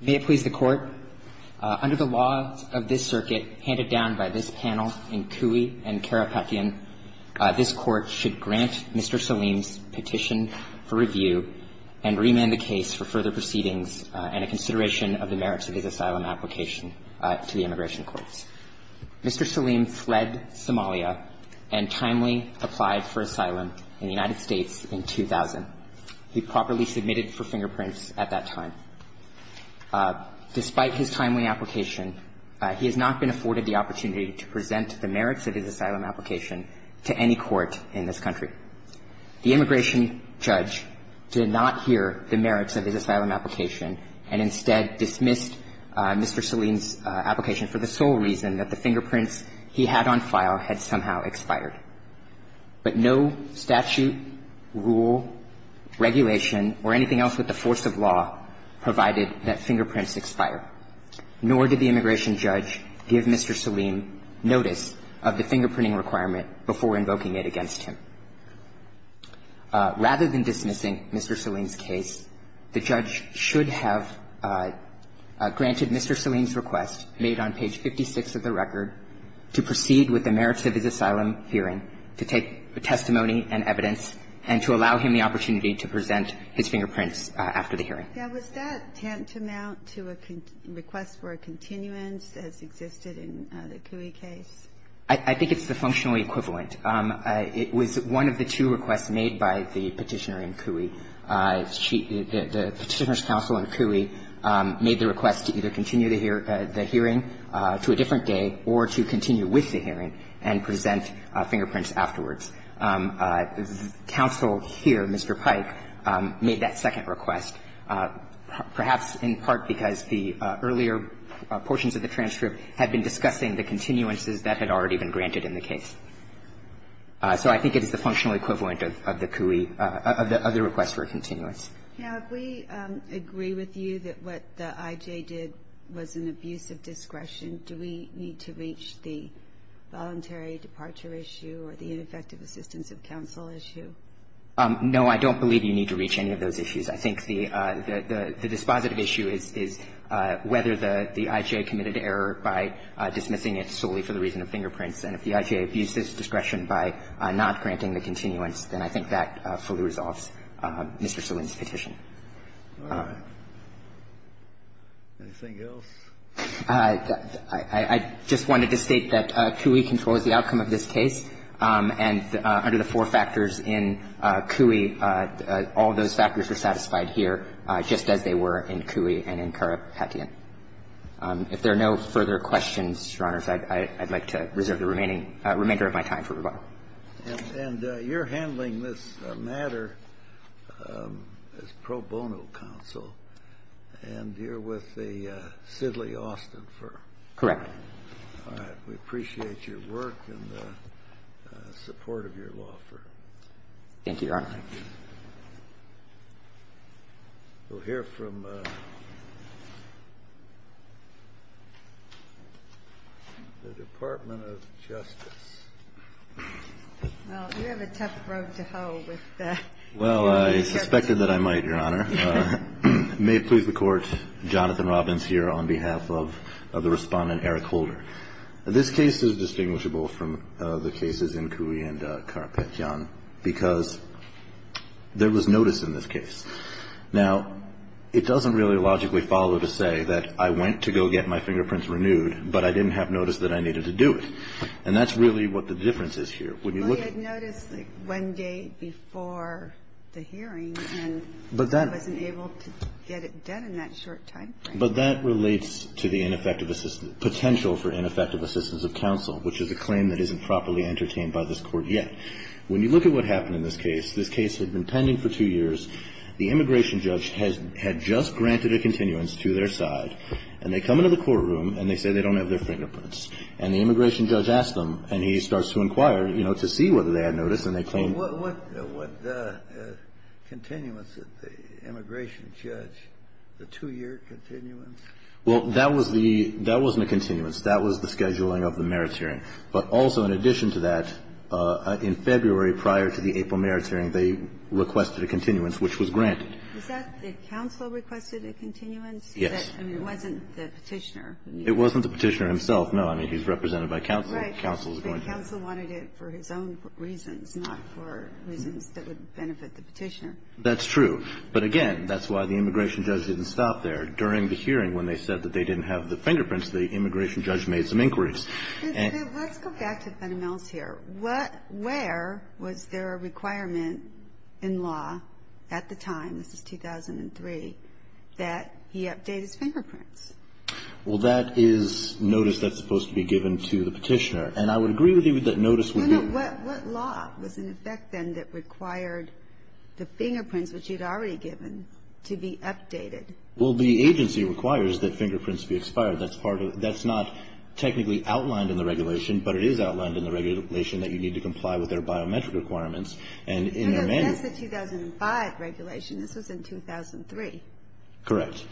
May it please the Court, under the law of this circuit, handed down by this panel in Cooey and Karapetian, this Court should grant Mr. Saleem's petition for review and remand the case for further proceedings and a consideration of the merits of his asylum application to the Immigration Courts. Mr. Saleem fled Somalia and timely applied for asylum in the United States in 2000. He properly submitted for fingerprints at that time. Despite his timely application, he has not been afforded the opportunity to present the merits of his asylum application to any court in this country. The immigration judge did not hear the merits of his asylum application and instead dismissed Mr. Saleem's application for the sole reason that the fingerprints he had on file had somehow expired. But no statute, rule, regulation, or anything else with the force of law provided that fingerprints expire. Nor did the immigration judge give Mr. Saleem notice of the fingerprinting requirement before invoking it against him. Rather than dismissing Mr. Saleem's case, the judge should have granted Mr. Saleem's testimony and evidence and to allow him the opportunity to present his fingerprints after the hearing. Ginsburg. Yeah. Was that tantamount to a request for a continuance as existed in the Cooey case? I think it's the functional equivalent. It was one of the two requests made by the Petitioner in Cooey. The Petitioner's counsel in Cooey made the request to either continue the hearing to a different day or to continue with the hearing and present fingerprints afterwards. Counsel here, Mr. Pike, made that second request, perhaps in part because the earlier portions of the transcript had been discussing the continuances that had already been granted in the case. So I think it is the functional equivalent of the Cooey, of the request for a continuance. Now, if we agree with you that what the I.J. did was an abuse of discretion, do we need to reach the voluntary departure issue or the ineffective assistance of counsel issue? No, I don't believe you need to reach any of those issues. I think the dispositive issue is whether the I.J. committed error by dismissing it solely for the reason of fingerprints. And if the I.J. abused its discretion by not granting the continuance, then I think that fully resolves Mr. Salin's petition. Anything else? I just wanted to state that Cooey controls the outcome of this case. And under the four factors in Cooey, all those factors are satisfied here, just as they were in Cooey and in Karapetian. If there are no further questions, Your Honors, I'd like to reserve the remaining of my time for rebuttal. And you're handling this matter as pro bono counsel. And you're with the Sidley Austin firm. Correct. All right. We appreciate your work and the support of your law firm. Thank you, Your Honor. We'll hear from the Department of Justice. Well, you have a tough road to hoe with that. Well, I suspected that I might, Your Honor. May it please the Court, Jonathan Robbins here on behalf of the Respondent Eric Holder. This case is distinguishable from the cases in Cooey and Karapetian because there was notice in this case. Now, it doesn't really logically follow to say that I went to go get my fingerprints renewed, but I didn't have notice that I needed to do it. And that's really what the difference is here. When you look at the case. Well, you had notice one day before the hearing, and I wasn't able to get it done in that short time frame. But that relates to the potential for ineffective assistance of counsel, which is a claim that isn't properly entertained by this Court yet. When you look at what happened in this case, this case had been pending for two years. The immigration judge had just granted a continuance to their side, and they come into the courtroom, and they say they don't have their fingerprints. And the immigration judge asks them, and he starts to inquire, you know, to see whether they had notice, and they claim. Kennedy, what continuance did the immigration judge, the two-year continuance? Well, that was the – that wasn't a continuance. That was the scheduling of the merits hearing. But also in addition to that, in February prior to the April merits hearing, they requested a continuance, which was granted. Is that the counsel requested a continuance? Yes. I mean, it wasn't the Petitioner. It wasn't the Petitioner himself. I mean, he's represented by counsel. But the counsel wanted it for his own reasons, not for reasons that would benefit the Petitioner. That's true. But again, that's why the immigration judge didn't stop there. During the hearing, when they said that they didn't have the fingerprints, the immigration judge made some inquiries. Let's go back to Fenneman's here. Where was there a requirement in law at the time, this is 2003, that he update his fingerprints? Well, that is notice that's supposed to be given to the Petitioner. And I would agree with you that notice would be – No, no. What law was in effect then that required the fingerprints, which you'd already given, to be updated? Well, the agency requires that fingerprints be expired. That's part of – that's not technically outlined in the regulation, but it is outlined in the regulation that you need to comply with their biometric requirements. No, no. That's the 2005 regulation. This was in 2003. Correct.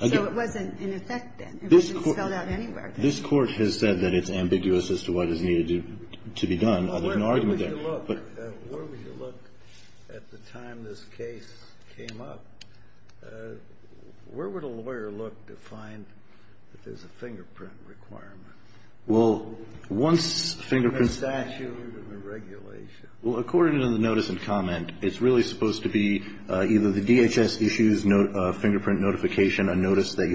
So it wasn't in effect then. It wasn't spelled out anywhere. This Court has said that it's ambiguous as to what is needed to be done, although there's an argument there. Where would you look at the time this case came up? Where would a lawyer look to find that there's a fingerprint requirement? Well, once fingerprints – In the statute and the regulation. Well, according to the notice and comment, it's really supposed to be either the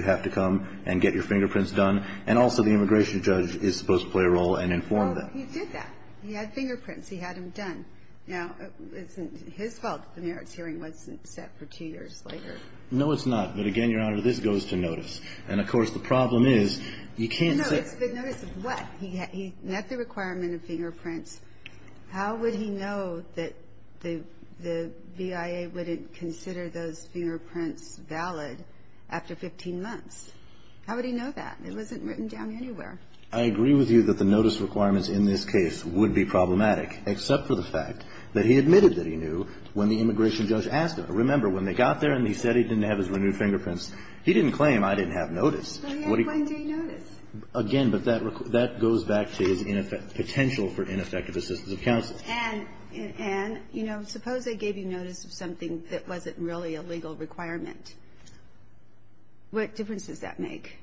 have to come and get your fingerprints done, and also the immigration judge is supposed to play a role and inform them. Oh, he did that. He had fingerprints. He had them done. Now, isn't it his fault that the merits hearing wasn't set for two years later? No, it's not. But, again, Your Honor, this goes to notice. And, of course, the problem is you can't set – No, it's the notice of what? He met the requirement of fingerprints. How would he know that the BIA wouldn't consider those fingerprints valid after 15 months? How would he know that? It wasn't written down anywhere. I agree with you that the notice requirements in this case would be problematic, except for the fact that he admitted that he knew when the immigration judge asked him. Remember, when they got there and he said he didn't have his renewed fingerprints, he didn't claim, I didn't have notice. When did he notice? Again, but that goes back to his potential for ineffective assistance of counsel. And, you know, suppose they gave you notice of something that wasn't really a legal requirement. What difference does that make?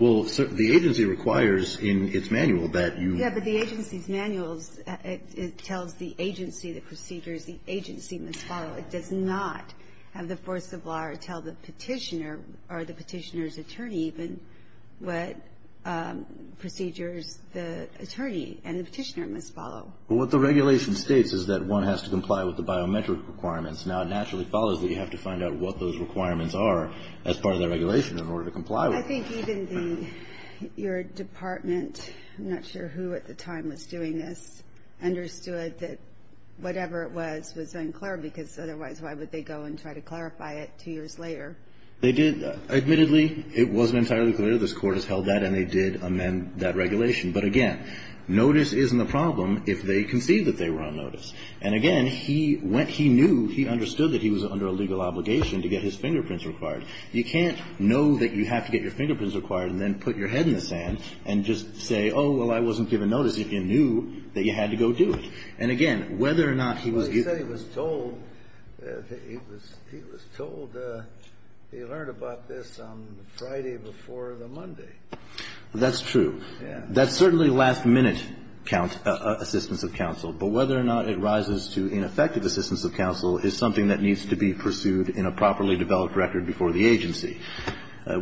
Well, the agency requires in its manual that you – Yeah, but the agency's manuals, it tells the agency the procedures the agency must follow. It does not have the force of law tell the petitioner, or the petitioner's attorney even, what procedures the attorney and the petitioner must follow. Well, what the regulation states is that one has to comply with the biometric requirements. Now, it naturally follows that you have to find out what those requirements are as part of the regulation in order to comply with them. Well, I think even your department – I'm not sure who at the time was doing this – But, again, notice isn't a problem if they concede that they were on notice. And, again, he went – he knew – he understood that he was under a legal obligation to get his fingerprints required. You can't know that you have to get your fingerprints required and then put your head in the sand and just say, oh, well, I wasn't given notice, if you knew that you had to go do it. And, again, whether or not he was – Well, he said he was told that he had to go do it. He said he was told that he had to go do it. He was told he learned about this on Friday before the Monday. That's true. Yes. That's certainly last-minute assistance of counsel. But whether or not it rises to ineffective assistance of counsel is something that needs to be pursued in a properly developed record before the agency.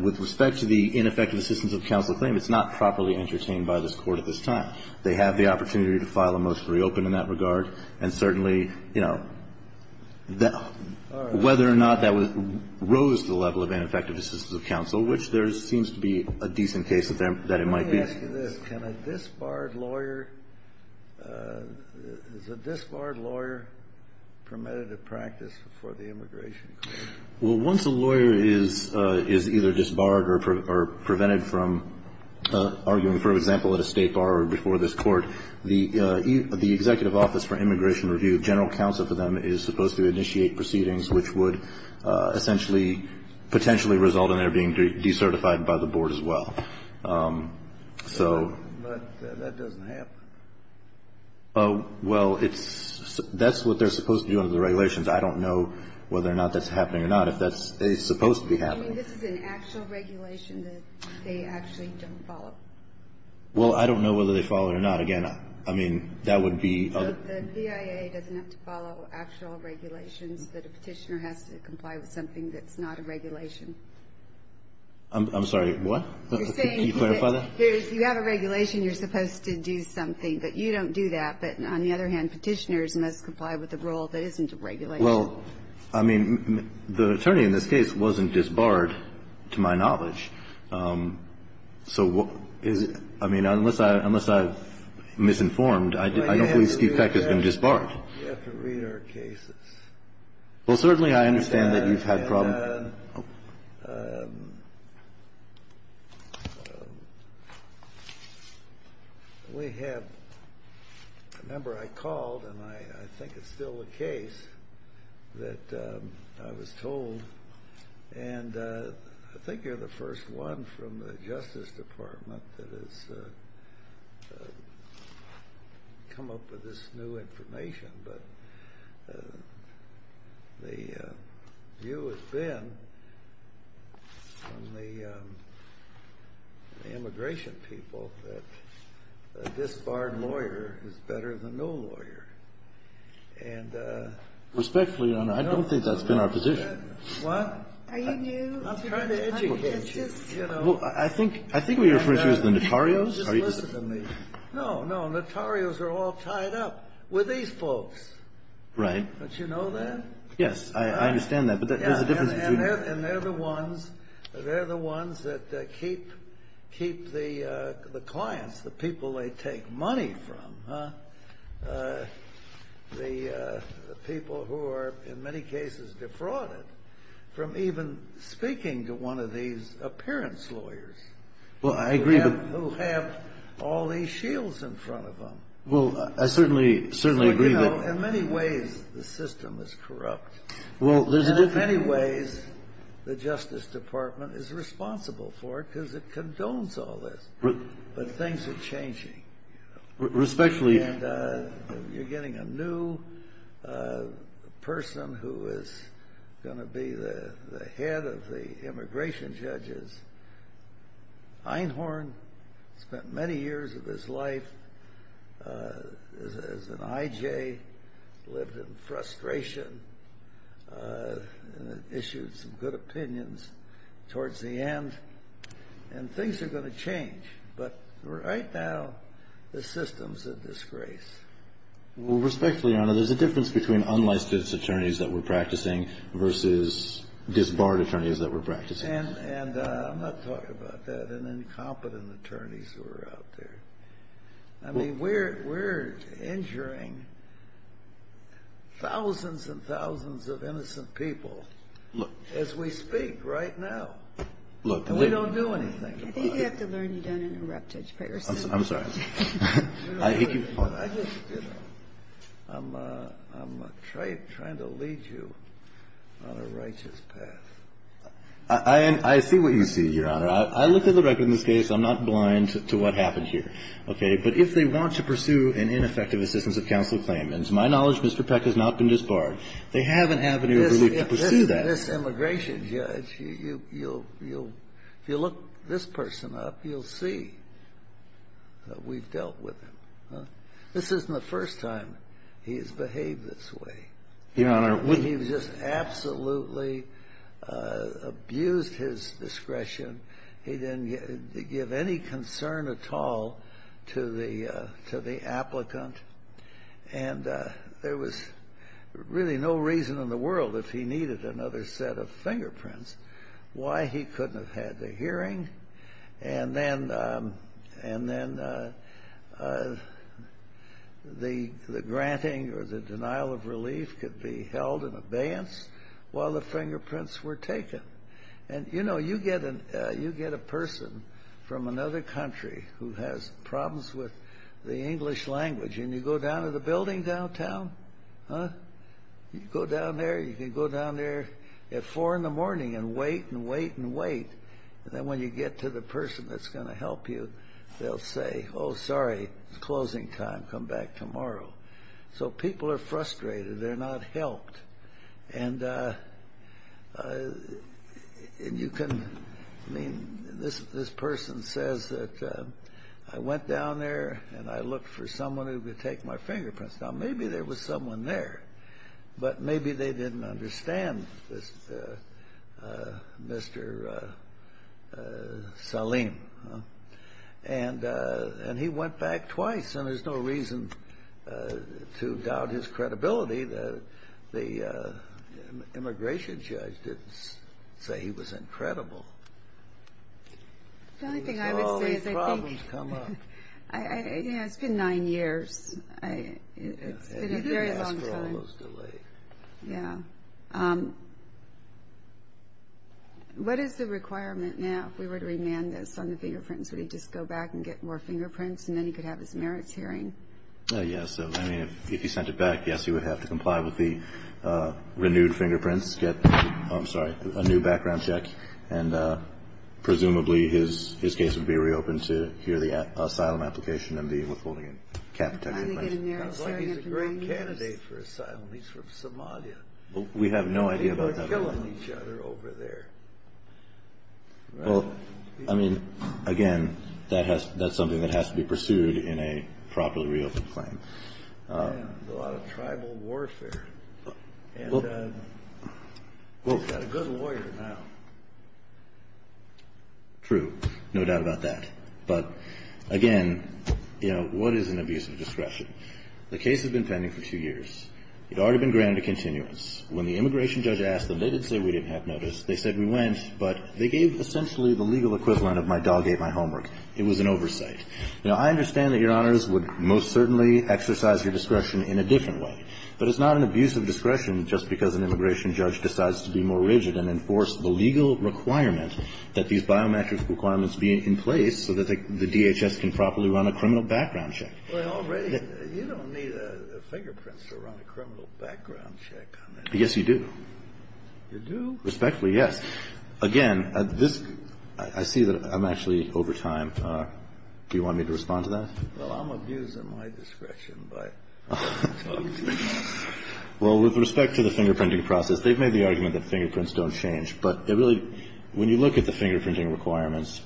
With respect to the ineffective assistance of counsel claim, it's not properly entertained by this Court at this time. They have the opportunity to file a motion to reopen in that regard. And certainly, you know, whether or not that rose to the level of ineffective assistance of counsel, which there seems to be a decent case that it might be. Let me ask you this. Can a disbarred lawyer – is a disbarred lawyer permitted to practice before the immigration court? Well, once a lawyer is either disbarred or prevented from arguing, for example, at a state bar or before this court, the Executive Office for Immigration Review, general counsel for them, is supposed to initiate proceedings which would essentially potentially result in their being decertified by the board as well. But that doesn't happen. Well, that's what they're supposed to do under the regulations. I don't know whether or not that's happening or not, if that's supposed to be happening. You mean this is an actual regulation that they actually don't follow? Well, I don't know whether they follow it or not. Again, I mean, that would be – The PIA doesn't have to follow actual regulations that a Petitioner has to comply with something that's not a regulation. I'm sorry. What? Can you clarify that? You have a regulation. You're supposed to do something. But you don't do that. But on the other hand, Petitioners must comply with a rule that isn't a regulation. Well, I mean, the attorney in this case wasn't disbarred, to my knowledge. So is it – I mean, unless I've misinformed, I don't believe Steve Peck has been disbarred. Well, you have to read our cases. Well, certainly I understand that you've had problems. And we have – remember, I called, and I think it's still the case, that I was told – and I think you're the first one from the Justice Department that has come up with this new information. But the view has been from the immigration people that a disbarred lawyer is better than no lawyer. And – Respectfully, Your Honor, I don't think that's been our position. What? Are you new? I'm trying to educate you. It's just – Well, I think what you're referring to is the notarios. Just listen to me. No, no. Notarios are all tied up with these folks. Right. Don't you know that? Yes. I understand that. But there's a difference between – And they're the ones that keep the clients, the people they take money from, the people who are in many cases defrauded from even speaking to one of these appearance lawyers. Well, I agree. Who have all these shields in front of them. Well, I certainly agree that – So, you know, in many ways the system is corrupt. Well, there's a – And in many ways the Justice Department is responsible for it because it condones all this. But things are changing. Respectfully. And you're getting a new person who is going to be the head of the immigration judges. Einhorn spent many years of his life as an IJ, lived in frustration, and issued some good opinions towards the end. And things are going to change. But right now the system's a disgrace. Well, respectfully, Your Honor, there's a difference between unlicensed attorneys that we're practicing versus disbarred attorneys that we're practicing. And I'm not talking about that and incompetent attorneys who are out there. I mean, we're injuring thousands and thousands of innocent people as we speak right now. Look – And we don't do anything about it. I think you have to learn to interrupt Judge Paris. I'm sorry. I'm trying to lead you on a righteous path. I see what you see, Your Honor. I looked at the record in this case. I'm not blind to what happened here. Okay. But if they want to pursue an ineffective assistance of counsel claim, and to my knowledge Mr. Peck has not been disbarred, they have an avenue of relief to pursue that. In this immigration, Judge, if you look this person up, you'll see that we've dealt with him. This isn't the first time he's behaved this way. He's just absolutely abused his discretion. He didn't give any concern at all to the applicant. And there was really no reason in the world if he needed another set of fingerprints why he couldn't have had the hearing and then the granting or the denial of relief could be held in abeyance while the fingerprints were taken. And, you know, you get a person from another country who has problems with the English language and you go down to the building downtown, huh? You go down there. You can go down there at 4 in the morning and wait and wait and wait. And then when you get to the person that's going to help you, they'll say, Oh, sorry, it's closing time. Come back tomorrow. So people are frustrated. They're not helped. And you can, I mean, this person says that I went down there and I looked for someone who could take my fingerprints. Now, maybe there was someone there, but maybe they didn't understand this Mr. Salim. And he went back twice, and there's no reason to doubt his credibility. The immigration judge didn't say he was incredible. The only thing I would say is I think it's been nine years. It's been a very long time. Yeah. What is the requirement now if we were to remand this on the fingerprints? Would he just go back and get more fingerprints and then he could have his merits hearing? Yes. I mean, if he sent it back, yes, he would have to comply with the renewed fingerprints, get a new background check, and presumably his case would be reopened to hear the asylum application and the withholding of cap-protected money. He's a great candidate for asylum. He's from Somalia. We have no idea about that at all. They were killing each other over there. Well, I mean, again, that's something that has to be pursued in a properly reopened claim. Yeah. There's a lot of tribal warfare. And he's got a good lawyer now. True. No doubt about that. But, again, you know, what is an abuse of discretion? The case has been pending for two years. It had already been granted a continuance. When the immigration judge asked them, they didn't say we didn't have notice. They said we went. But they gave essentially the legal equivalent of my dog ate my homework. It was an oversight. Now, I understand that Your Honors would most certainly exercise your discretion in a different way. But it's not an abuse of discretion just because an immigration judge decides to be more rigid and enforce the legal requirement that these biometric requirements be in place so that the DHS can properly run a criminal background check. Well, you don't need a fingerprint to run a criminal background check on that. Yes, you do. You do? Respectfully, yes. Again, this – I see that I'm actually over time. Do you want me to respond to that? Well, I'm abusing my discretion by talking to you. Well, with respect to the fingerprinting process, they've made the argument that fingerprints don't change. But it really – when you look at the fingerprinting requirements,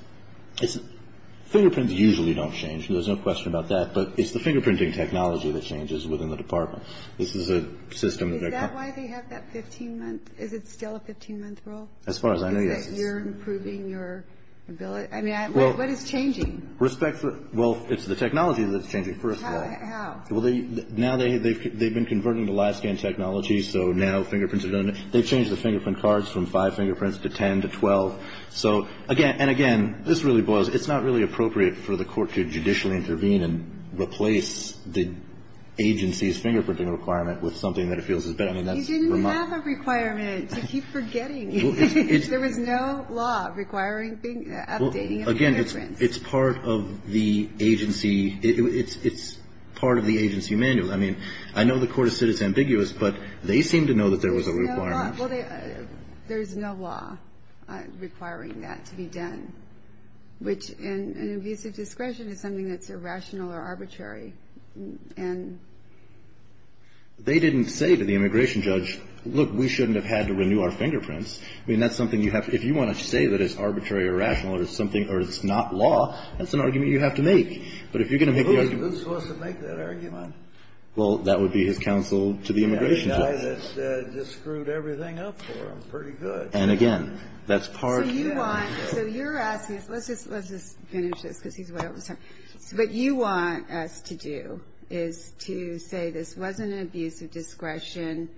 fingerprints usually don't change. There's no question about that. But it's the fingerprinting technology that changes within the department. This is a system that – Is that why they have that 15-month – Is it still a 15-month rule? As far as I know, yes. Is that you're improving your ability? I mean, what is changing? Respectfully – well, it's the technology that's changing, first of all. How? Well, now they've been converting to live scan technology, so now fingerprints are done – they've changed the fingerprint cards from five fingerprints to 10 to 12. So, again – and, again, this really boils – it's not really appropriate for the court to judicially intervene and replace the agency's fingerprinting requirement with something that it feels is better. You didn't have a requirement to keep forgetting. There was no law requiring updating of the fingerprints. Well, again, it's part of the agency – it's part of the agency manual. I mean, I know the court has said it's ambiguous, but they seem to know that there was a requirement. There's no law requiring that to be done, which in an abusive discretion is something that's irrational or arbitrary. They didn't say to the immigration judge, look, we shouldn't have had to renew our fingerprints. I mean, that's something you have – if you want to say that it's arbitrary or rational or it's something – or it's not law, that's an argument you have to make. But if you're going to make the argument – Who's supposed to make that argument? Well, that would be his counsel to the immigration judge. The guy that just screwed everything up for them pretty good. And, again, that's part – So you want – so you're asking – let's just finish this because he's way over the top. So what you want us to do is to say this wasn't an abusive discretion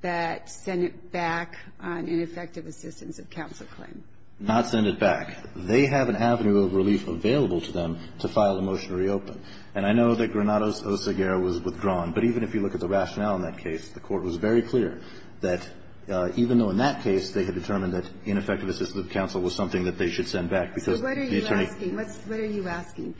that sent it back on ineffective assistance of counsel claim. Not send it back. They have an avenue of relief available to them to file a motion to reopen. And I know that Granados Oseguera was withdrawn, but even if you look at the rationale in that case, the court was very clear that even though in that case they had determined that ineffective assistance of counsel was something that they should send back because the attorney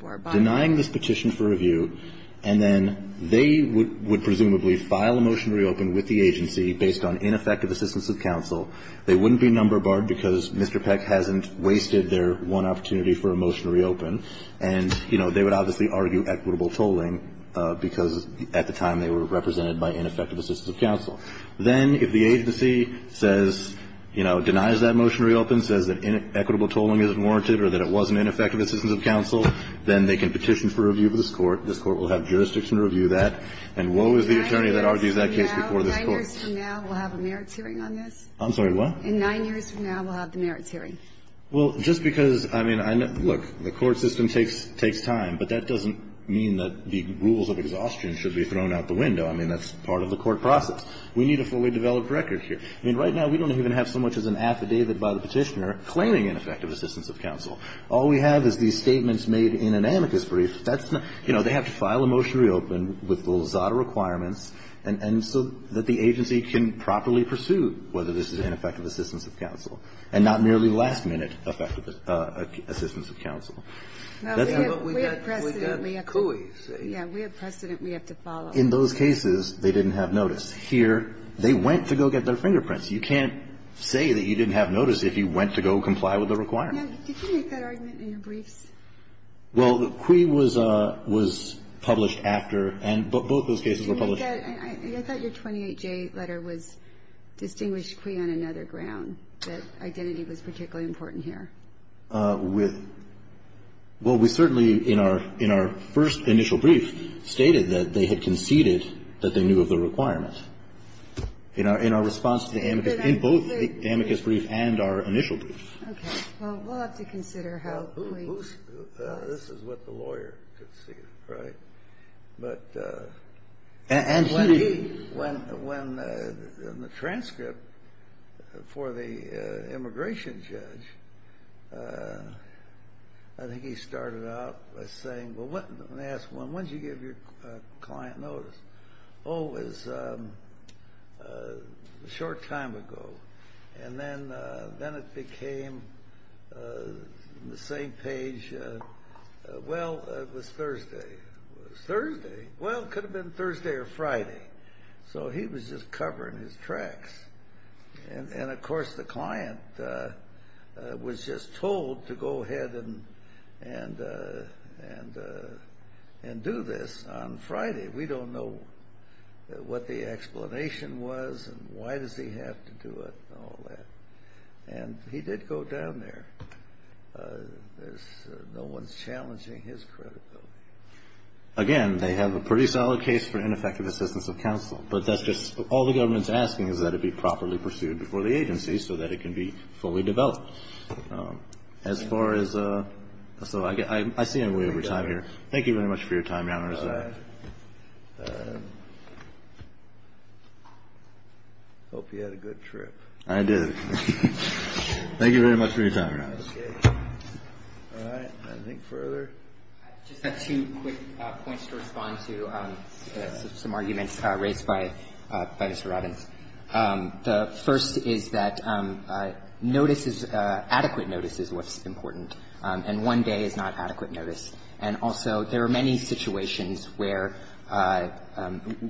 – Denying this petition for review, and then they would presumably file a motion to reopen with the agency based on ineffective assistance of counsel. They wouldn't be number barred because Mr. Peck hasn't wasted their one opportunity for a motion to reopen. And, you know, they would obviously argue equitable tolling because at the time they were represented by ineffective assistance of counsel. Then if the agency says – you know, denies that motion to reopen, says that equitable tolling isn't warranted or that it wasn't ineffective assistance of counsel, then they can petition for review for this Court. This Court will have jurisdiction to review that. And woe is the attorney that argues that case before this Court. Nine years from now, we'll have a merits hearing on this? I'm sorry, what? In nine years from now, we'll have the merits hearing. Well, just because – I mean, look, the court system takes time, but that doesn't mean that the rules of exhaustion should be thrown out the window. I mean, that's part of the court process. We need a fully developed record here. I mean, right now we don't even have so much as an affidavit by the petitioner claiming ineffective assistance of counsel. All we have is these statements made in an amicus brief. That's not – you know, they have to file a motion to reopen with a little zada requirements, and so that the agency can properly pursue whether this is ineffective assistance of counsel, and not merely last-minute effective assistance of counsel. That's not what we have. We have precedent. We have CUI. Yeah. We have precedent we have to follow. In those cases, they didn't have notice. Here, they went to go get their fingerprints. You can't say that you didn't have notice if you went to go comply with the requirement. Did you make that argument in your briefs? Well, CUI was published after, and both those cases were published after. And I thought your 28J letter was distinguished CUI on another ground, that identity was particularly important here. With – well, we certainly, in our first initial brief, stated that they had conceded that they knew of the requirement. In our response to the amicus – in both the amicus brief and our initial brief. Okay. Well, we'll have to consider how we – Well, this is what the lawyer conceived, right? But – And she – When the transcript for the immigration judge, I think he started out by saying, well, let me ask one. When did you give your client notice? Oh, it was a short time ago. And then it became the same page – well, it was Thursday. It was Thursday? Well, it could have been Thursday or Friday. So he was just covering his tracks. And, of course, the client was just told to go ahead and do this on Friday. We don't know what the explanation was and why does he have to do it and all that. And he did go down there. No one's challenging his credibility. Again, they have a pretty solid case for ineffective assistance of counsel. But that's just – all the government's asking is that it be properly pursued before the agency so that it can be fully developed. As far as – so I see I'm way over time here. Thank you very much for your time, Your Honor. I hope you had a good trip. I did. Thank you very much for your time, Your Honor. Okay. All right. Anything further? I just have two quick points to respond to some arguments raised by Mr. Robbins. The first is that notice is – adequate notice is what's important. And one day is not adequate notice. And also there are many situations where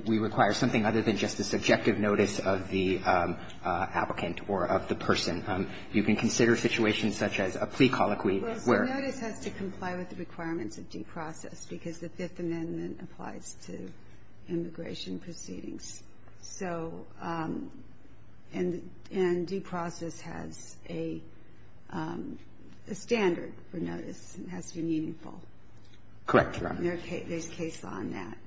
we require something other than just the subjective notice of the applicant or of the person. You can consider situations such as a plea colloquy where – Well, notice has to comply with the requirements of due process because the Fifth Amendment applies to immigration proceedings. So – and due process has a standard for notice. It has to be meaningful. Correct, Your Honor. And there's case law in that.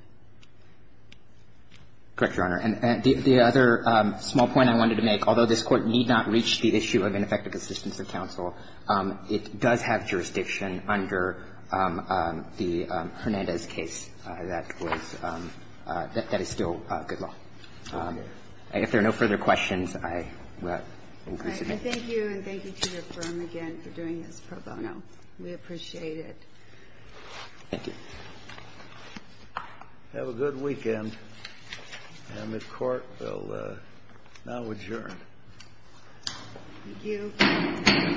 Correct, Your Honor. And the other small point I wanted to make, although this Court need not reach the issue of ineffective assistance of counsel, it does have jurisdiction under the Hernandez case that was – that is still good law. If there are no further questions, I will conclude today. All right. And thank you, and thank you to your firm again for doing this pro bono. We appreciate it. Thank you. Have a good weekend. And the Court will now adjourn. Thank you.